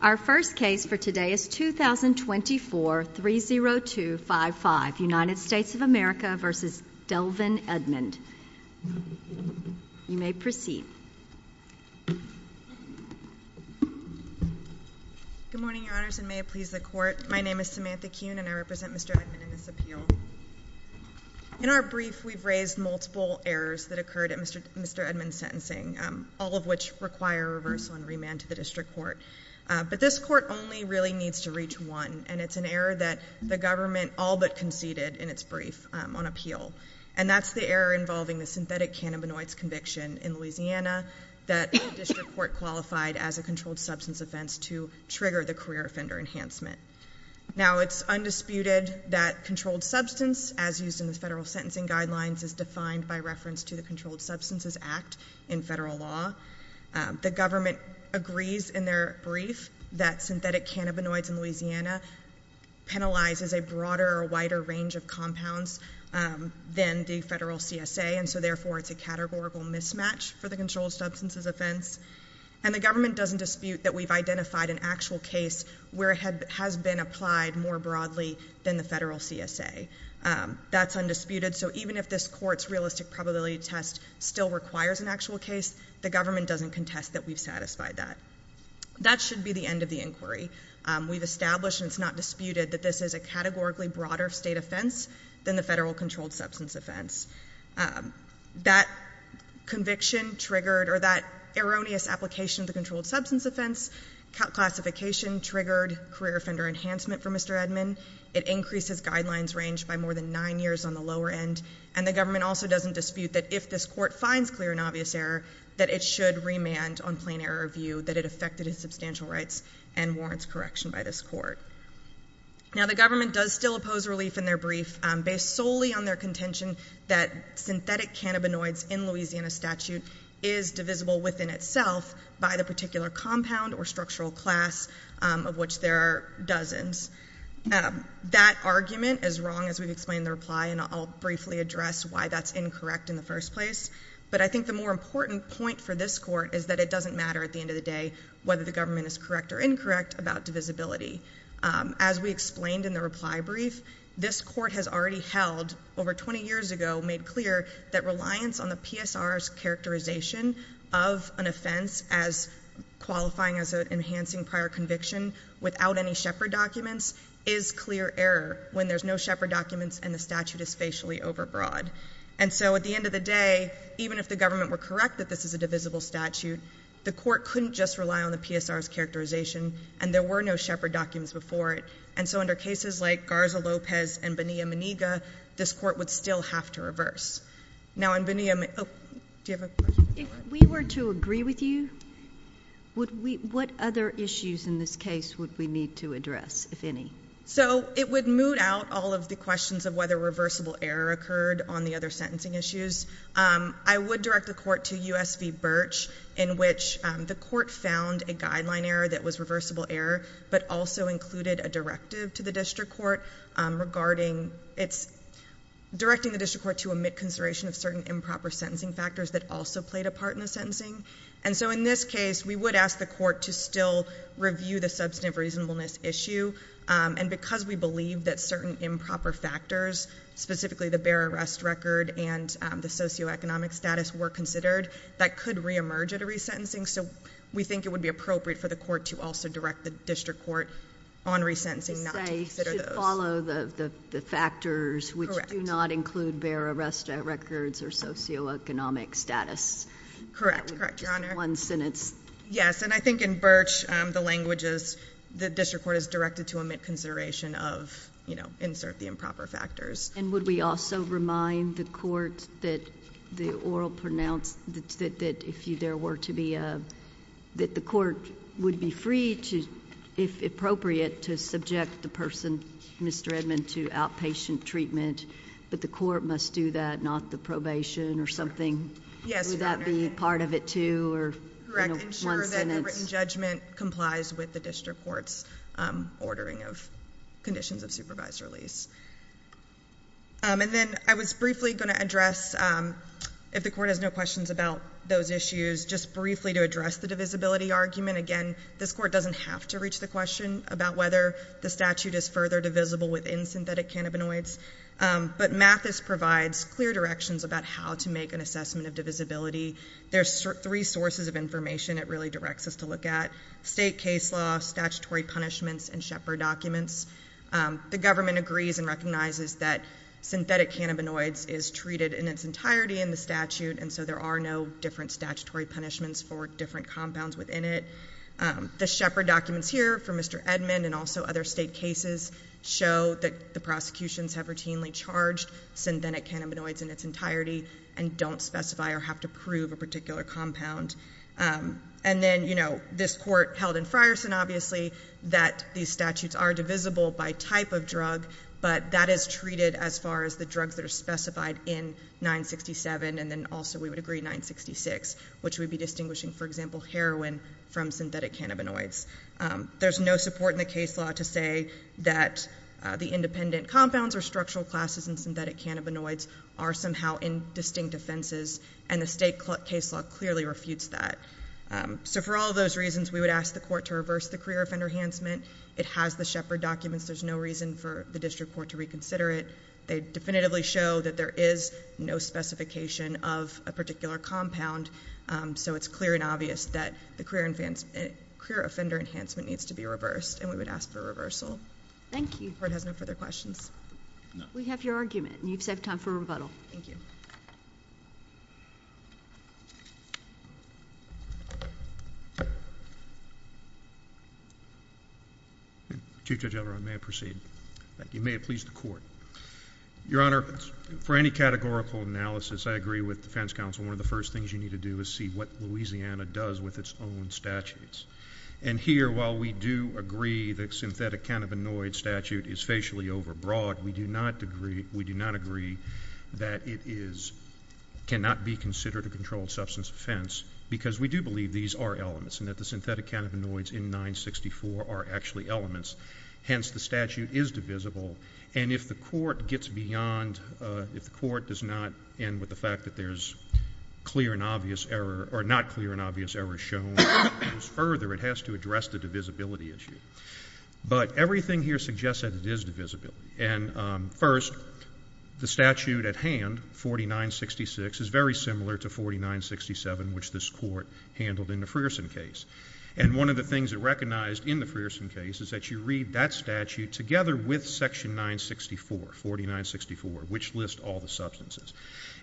Our first case for today is 2024-30255, United States of America v. Delvin Edmond. You may proceed. Good morning, Your Honors, and may it please the Court. My name is Samantha Kuhn, and I represent Mr. Edmond in this appeal. In our brief, we've raised multiple errors that occurred at Mr. Edmond's sentencing, all of which require a reversal and remand to the District Court. But this Court only really needs to reach one, and it's an error that the government all but conceded in its brief on appeal. And that's the error involving the synthetic cannabinoids conviction in Louisiana that the District Court qualified as a controlled substance offense to trigger the career offender enhancement. Now, it's undisputed that controlled substance, as used in the federal sentencing guidelines, is defined by reference to the Controlled Substances Act in federal law. The government agrees in their brief that synthetic cannabinoids in Louisiana penalizes a broader or wider range of compounds than the federal CSA, and so therefore it's a categorical mismatch for the controlled substances offense. And the government doesn't dispute that we've identified an actual case where it has been applied more broadly than the federal CSA. That's undisputed, so even if this Court's realistic probability test still requires an actual case, the government doesn't contest that we've satisfied that. That should be the end of the inquiry. We've established, and it's not disputed, that this is a categorically broader state offense than the federal controlled substance offense. That conviction triggered, or that erroneous application of the controlled substance offense classification triggered career offender enhancement for Mr. Edmond. It increases guidelines range by more than nine years on the lower end. And the government also doesn't dispute that if this Court finds clear and obvious error, that it should remand on plain error review, that it affected his substantial rights and warrants correction by this Court. Now, the government does still oppose relief in their brief, based solely on their contention that synthetic cannabinoids in Louisiana statute is divisible within itself by the particular compound or structural class of which there are dozens. That argument is wrong, as we've explained in the reply, and I'll briefly address why that's incorrect in the first place. But I think the more important point for this Court is that it doesn't matter, at the end of the day, whether the government is correct or incorrect about divisibility. As we explained in the reply brief, this Court has already held, over 20 years ago, made clear that reliance on the PSR's characterization of an offense as qualifying as an enhancing prior conviction without any Shepard documents is clear error when there's no Shepard documents and the statute is facially overbroad. And so, at the end of the day, even if the government were correct that this is a divisible statute, the Court couldn't just rely on the PSR's characterization and there were no Shepard documents before it. And so, under cases like Garza-Lopez and Bonilla-Maniga, this Court would still have to reverse. Now, on Bonilla-Maniga, do you have a question? If we were to agree with you, what other issues in this case would we need to address, if any? So, it would moot out all of the questions of whether reversible error occurred on the other sentencing issues. I would direct the Court to U.S. v. Birch, in which the Court found a guideline error that was reversible error, but also included a directive to the District Court regarding its – directing the District Court to omit consideration of certain improper sentencing factors that also played a part in the sentencing. And so, in this case, we would ask the Court to still review the substantive reasonableness issue. And because we believe that certain improper factors, specifically the bare arrest record and the socioeconomic status, were considered, that could re-emerge at a resentencing. So, we think it would be appropriate for the Court to also direct the District Court on resentencing not to consider those. You say it should follow the factors which do not include bare arrest records or socioeconomic status. Correct. Correct, Your Honor. That would be just one sentence. Yes, and I think in Birch, the language is the District Court is directed to omit consideration of, you know, insert the improper factors. And would we also remind the Court that the oral pronounce – that if there were to be a – that the Court would be free to, if appropriate, to subject the person, Mr. Edmund, to outpatient treatment, but the Court must do that, not the probation or something. Yes, Your Honor. Would that be part of it, too? Correct, ensure that a written judgment complies with the District Court's ordering of conditions of supervised release. And then I was briefly going to address, if the Court has no questions about those issues, just briefly to address the divisibility argument. Again, this Court doesn't have to reach the question about whether the statute is further divisible within synthetic cannabinoids. But Mathis provides clear directions about how to make an assessment of divisibility. There's three sources of information it really directs us to look at. State case law, statutory punishments, and Shepard documents. The government agrees and recognizes that synthetic cannabinoids is treated in its entirety in the statute, and so there are no different statutory punishments for different compounds within it. The Shepard documents here for Mr. Edmund and also other state cases show that the prosecutions have routinely charged synthetic cannabinoids in its entirety and don't specify or have to prove a particular compound. And then, you know, this Court held in Frierson, obviously, that these statutes are divisible by type of drug, but that is treated as far as the drugs that are specified in 967 and then also we would agree 966, which would be distinguishing, for example, heroin from synthetic cannabinoids. There's no support in the case law to say that the independent compounds or structural classes in synthetic cannabinoids are somehow in distinct offenses, and the state case law clearly refutes that. So for all those reasons, we would ask the Court to reverse the career offender enhancement. It has the Shepard documents. There's no reason for the district court to reconsider it. They definitively show that there is no specification of a particular compound, so it's clear and obvious that the career offender enhancement needs to be reversed, and we would ask for a reversal. Thank you. The Court has no further questions. We have your argument, and you've saved time for rebuttal. Thank you. Chief Judge Elrond, may I proceed? You may have pleased the Court. Your Honor, for any categorical analysis, I agree with the defense counsel that one of the first things you need to do is see what Louisiana does with its own statutes. And here, while we do agree that the synthetic cannabinoid statute is facially overbroad, we do not agree that it cannot be considered a controlled substance offense because we do believe these are elements and that the synthetic cannabinoids in 964 are actually elements. Hence, the statute is divisible, and if the Court does not end with the fact that there is not clear and obvious error shown, it goes further. It has to address the divisibility issue. But everything here suggests that it is divisible. And first, the statute at hand, 4966, is very similar to 4967, which this Court handled in the Frierson case. And one of the things it recognized in the Frierson case is that you read that statute together with section 964, 4964, which lists all the substances.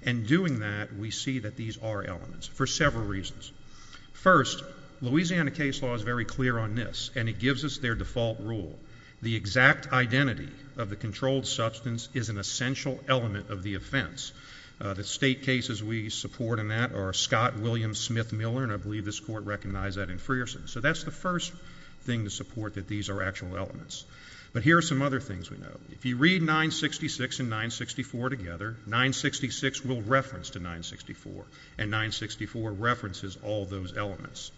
And doing that, we see that these are elements for several reasons. First, Louisiana case law is very clear on this, and it gives us their default rule. The exact identity of the controlled substance is an essential element of the offense. The state cases we support in that are Scott, Williams, Smith, Miller, and I believe this Court recognized that in Frierson. So that's the first thing to support that these are actual elements. But here are some other things we know. If you read 966 and 964 together, 966 will reference to 964, and 964 references all those elements.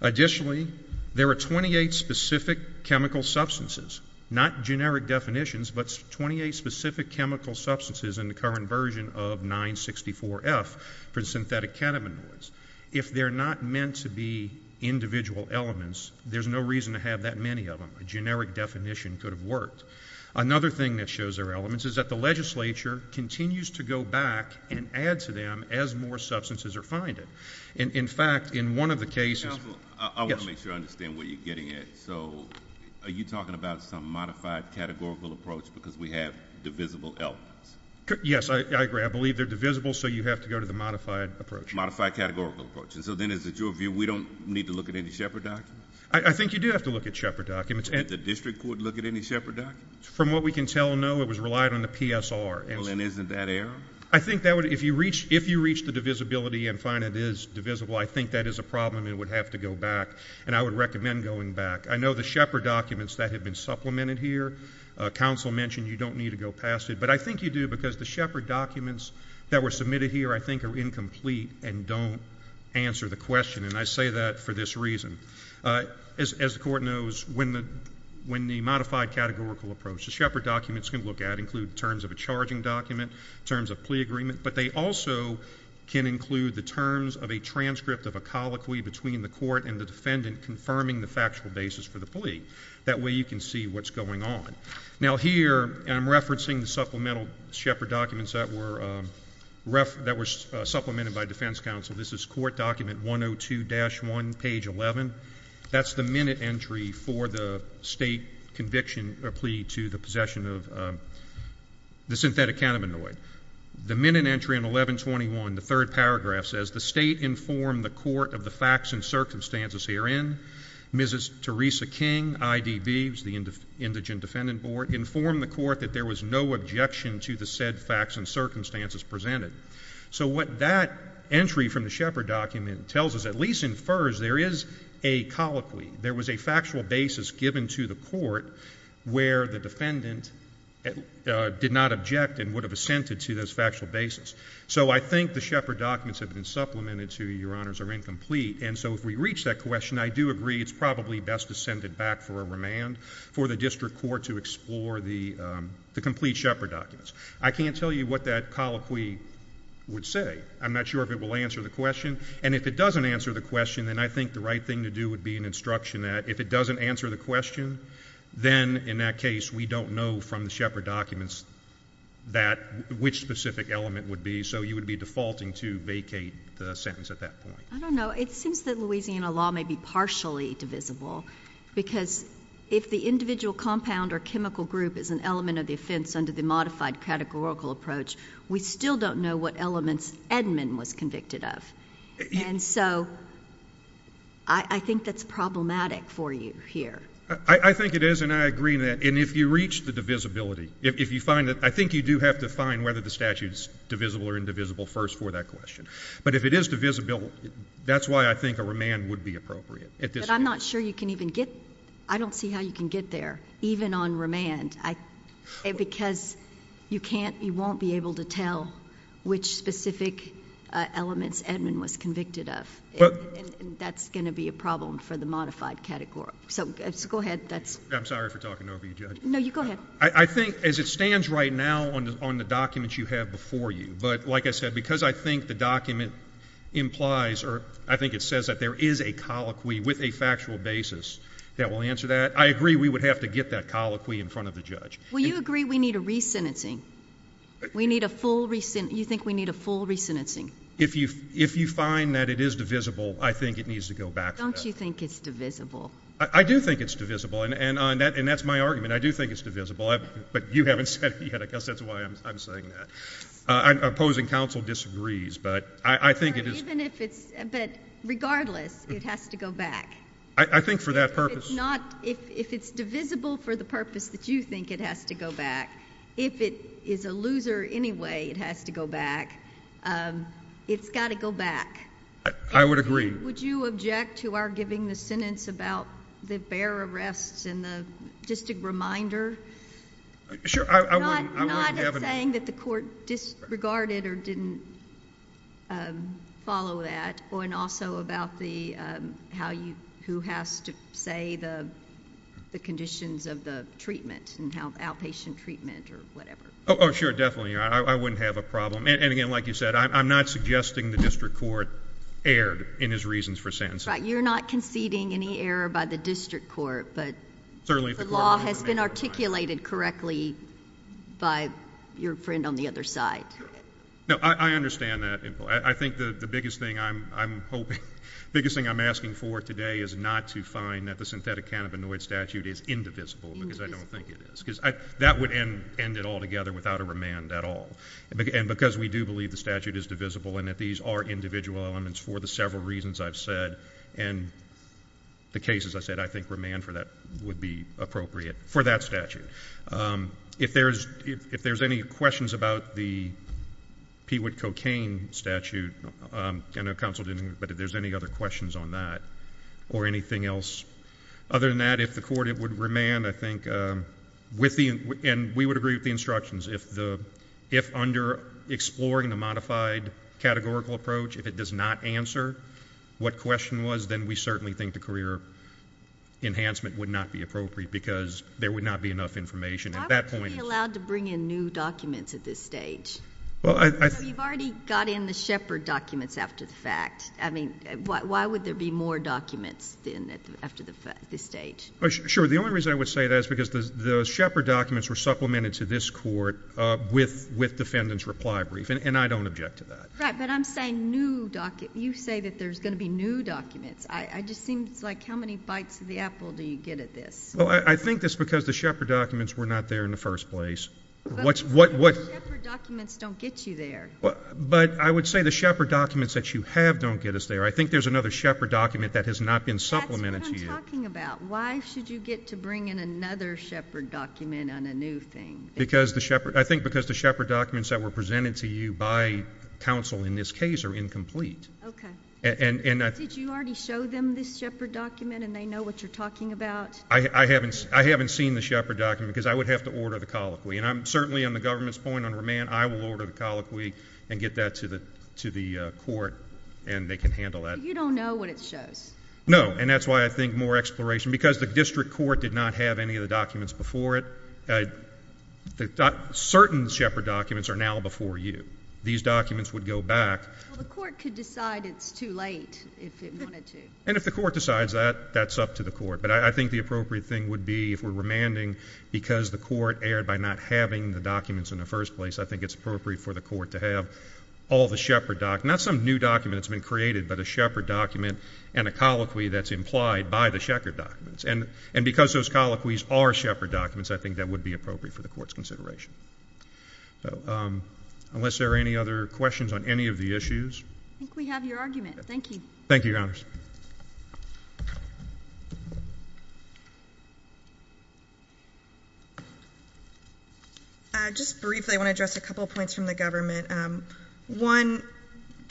Additionally, there are 28 specific chemical substances, not generic definitions, but 28 specific chemical substances in the current version of 964F for synthetic cannabinoids. If they're not meant to be individual elements, there's no reason to have that many of them. A generic definition could have worked. Another thing that shows they're elements is that the legislature continues to go back and add to them as more substances are finding. In fact, in one of the cases ‑‑ Counsel, I want to make sure I understand what you're getting at. So are you talking about some modified categorical approach because we have divisible elements? Yes, I agree. I believe they're divisible, so you have to go to the modified approach. Modified categorical approach. And so then is it your view we don't need to look at any Shepard documents? I think you do have to look at Shepard documents. Did the district court look at any Shepard documents? From what we can tell, no. It was relied on the PSR. Well, then isn't that error? I think that would ‑‑ if you reach the divisibility and find it is divisible, I think that is a problem and would have to go back, and I would recommend going back. I know the Shepard documents that have been supplemented here, counsel mentioned you don't need to go past it, but I think you do because the Shepard documents that were submitted here I think are incomplete and don't answer the question, and I say that for this reason. As the court knows, when the modified categorical approach, the Shepard documents can look at include terms of a charging document, terms of plea agreement, but they also can include the terms of a transcript of a colloquy between the court and the defendant confirming the factual basis for the plea. That way you can see what's going on. Now, here I'm referencing the supplemental Shepard documents that were supplemented by defense counsel. This is court document 102-1, page 11. That's the minute entry for the state conviction or plea to the possession of the synthetic cannabinoid. The minute entry in 1121, the third paragraph says, the state informed the court of the facts and circumstances herein. Mrs. Teresa King, IDB, the indigent defendant board, informed the court that there was no objection to the said facts and circumstances presented. So what that entry from the Shepard document tells us, at least in FERS, there is a colloquy. There was a factual basis given to the court where the defendant did not object and would have assented to this factual basis. So I think the Shepard documents have been supplemented to, Your Honors, are incomplete. And so if we reach that question, I do agree it's probably best to send it back for a remand for the district court to explore the complete Shepard documents. I can't tell you what that colloquy would say. I'm not sure if it will answer the question. And if it doesn't answer the question, then I think the right thing to do would be an instruction that if it doesn't answer the question, then in that case we don't know from the Shepard documents which specific element would be. So you would be defaulting to vacate the sentence at that point. I don't know. It seems that Louisiana law may be partially divisible because if the individual compound or chemical group is an element of the offense under the modified categorical approach, we still don't know what elements Edmond was convicted of. And so I think that's problematic for you here. I think it is, and I agree with that. And if you reach the divisibility, if you find that, I think you do have to find whether the statute is divisible or indivisible first for that question. But if it is divisible, that's why I think a remand would be appropriate. But I'm not sure you can even get, I don't see how you can get there, even on remand, because you can't, you won't be able to tell which specific elements Edmond was convicted of. And that's going to be a problem for the modified categorical. So go ahead. I'm sorry for talking over you, Judge. No, you go ahead. I think as it stands right now on the documents you have before you, but like I said, because I think the document implies or I think it says that there is a colloquy with a factual basis that will answer that, I agree we would have to get that colloquy in front of the judge. Well, you agree we need a re-sentencing. We need a full re-sentencing. You think we need a full re-sentencing? If you find that it is divisible, I think it needs to go back to that. Don't you think it's divisible? I do think it's divisible, and that's my argument. I do think it's divisible, but you haven't said it yet. I guess that's why I'm saying that. Opposing counsel disagrees, but I think it is. But regardless, it has to go back. I think for that purpose. If it's divisible for the purpose that you think it has to go back, if it is a loser anyway it has to go back, it's got to go back. I would agree. Would you object to our giving the sentence about the bare arrests and the district reminder? Sure. Not saying that the court disregarded or didn't follow that, and also about who has to say the conditions of the treatment and outpatient treatment or whatever. Oh, sure, definitely. I wouldn't have a problem. And, again, like you said, I'm not suggesting the district court erred in his reasons for sentencing. You're not conceding any error by the district court, but the law has been articulated correctly by your friend on the other side. No, I understand that. I think the biggest thing I'm hoping, the biggest thing I'm asking for today is not to find that the synthetic cannabinoid statute is indivisible, because I don't think it is, because that would end it all together without a remand at all. And because we do believe the statute is divisible and that these are individual elements for the several reasons I've said, and the case, as I said, I think remand would be appropriate for that statute. If there's any questions about the pee-wit cocaine statute, I know counsel didn't, but if there's any other questions on that or anything else other than that, if the court would remand, I think, and we would agree with the instructions, if under exploring the modified categorical approach, if it does not answer what question was, then we certainly think the career enhancement would not be appropriate because there would not be enough information. I would be allowed to bring in new documents at this stage. You've already got in the Shepard documents after the fact. I mean, why would there be more documents after this stage? Sure. The only reason I would say that is because the Shepard documents were supplemented to this court with defendant's reply brief, and I don't object to that. Right, but I'm saying new documents. You say that there's going to be new documents. It just seems like how many bites of the apple do you get at this? Well, I think that's because the Shepard documents were not there in the first place. But Shepard documents don't get you there. But I would say the Shepard documents that you have don't get us there. I think there's another Shepard document that has not been supplemented to you. That's what I'm talking about. Why should you get to bring in another Shepard document on a new thing? I think because the Shepard documents that were presented to you by counsel in this case are incomplete. Okay. Did you already show them this Shepard document, and they know what you're talking about? I haven't seen the Shepard document because I would have to order the colloquy. And certainly on the government's point, on remand, I will order the colloquy and get that to the court, and they can handle that. You don't know what it shows. No, and that's why I think more exploration. Because the district court did not have any of the documents before it. Certain Shepard documents are now before you. These documents would go back. Well, the court could decide it's too late if it wanted to. And if the court decides that, that's up to the court. But I think the appropriate thing would be, if we're remanding, because the court erred by not having the documents in the first place, I think it's appropriate for the court to have all the Shepard documents, not some new document that's been created, but a Shepard document and a colloquy that's implied by the Shepard documents. And because those colloquies are Shepard documents, I think that would be appropriate for the court's consideration. Unless there are any other questions on any of the issues. I think we have your argument. Thank you. Thank you, Your Honors. Just briefly, I want to address a couple of points from the government. One,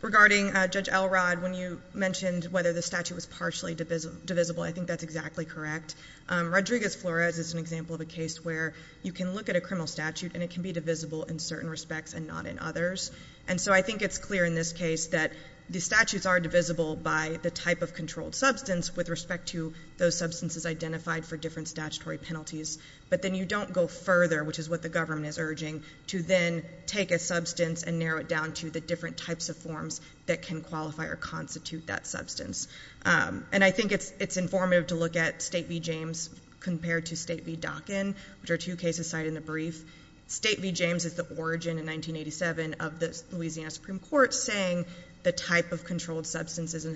regarding Judge Elrod, when you mentioned whether the statute was partially divisible, I think that's exactly correct. Rodriguez-Flores is an example of a case where you can look at a criminal statute and it can be divisible in certain respects and not in others. And so I think it's clear in this case that the statutes are divisible by the type of controlled substance with respect to those substances identified for different statutory penalties. But then you don't go further, which is what the government is urging, to then take a substance and narrow it down to the different types of forms that can qualify or constitute that substance. And I think it's informative to look at State v. James compared to State v. Dockin, which are two cases cited in the brief. State v. James is the origin in 1987 of the Louisiana Supreme Court saying the type of controlled substance is an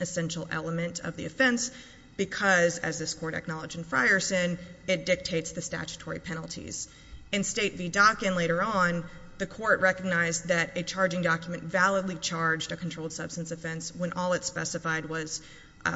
essential element of the offense because, as this court acknowledged in Frierson, it dictates the statutory penalties. In State v. Dockin later on, the court recognized that a charging document validly charged a controlled substance offense when all it specified was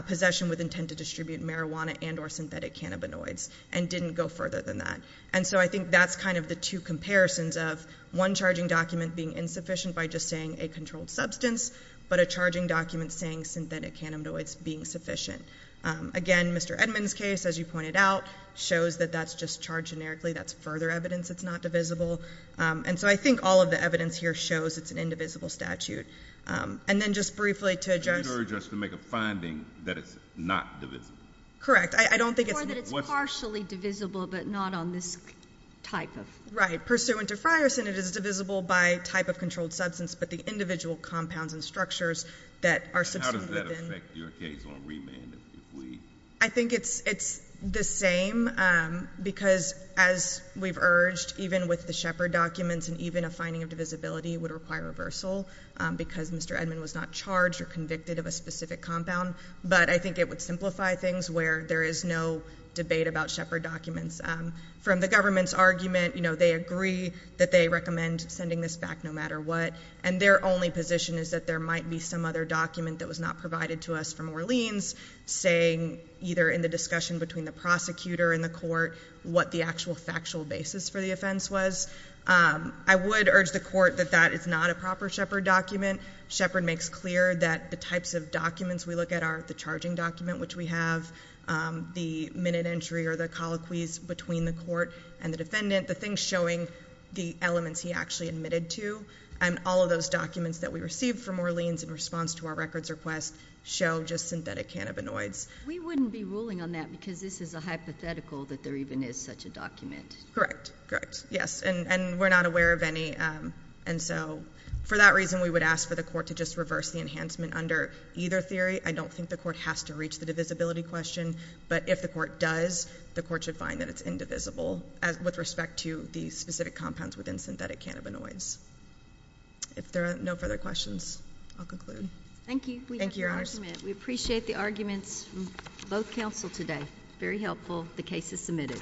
possession with intent to distribute marijuana and or synthetic cannabinoids and didn't go further than that. And so I think that's kind of the two comparisons of one charging document being insufficient by just saying a controlled substance, but a charging document saying synthetic cannabinoids being sufficient. Again, Mr. Edmond's case, as you pointed out, shows that that's just charged generically. That's further evidence it's not divisible. And so I think all of the evidence here shows it's an indivisible statute. And then just briefly to address— So you'd urge us to make a finding that it's not divisible? Correct. I don't think it's— Or that it's partially divisible but not on this type of— Right. Pursuant to Frierson, it is divisible by type of controlled substance, but the individual compounds and structures that are substantiated within— And how does that affect your case on remand if we— I think it's the same because, as we've urged, even with the Shepard documents and even a finding of divisibility would require reversal because Mr. Edmond was not charged or convicted of a specific compound. But I think it would simplify things where there is no debate about Shepard documents. From the government's argument, you know, they agree that they recommend sending this back no matter what, and their only position is that there might be some other document that was not provided to us from Orleans saying, either in the discussion between the prosecutor and the court, what the actual factual basis for the offense was. I would urge the court that that is not a proper Shepard document. Shepard makes clear that the types of documents we look at are the charging document, which we have, the minute entry or the colloquies between the court and the defendant, the things showing the elements he actually admitted to, and all of those documents that we received from Orleans in response to our records request show just synthetic cannabinoids. We wouldn't be ruling on that because this is a hypothetical that there even is such a document. Correct, correct. Yes, and we're not aware of any. And so for that reason, we would ask for the court to just reverse the enhancement under either theory. I don't think the court has to reach the divisibility question, but if the court does, the court should find that it's indivisible with respect to the specific compounds within synthetic cannabinoids. If there are no further questions, I'll conclude. Thank you. Thank you, Your Honors. We appreciate the arguments from both counsel today. Very helpful. The case is submitted.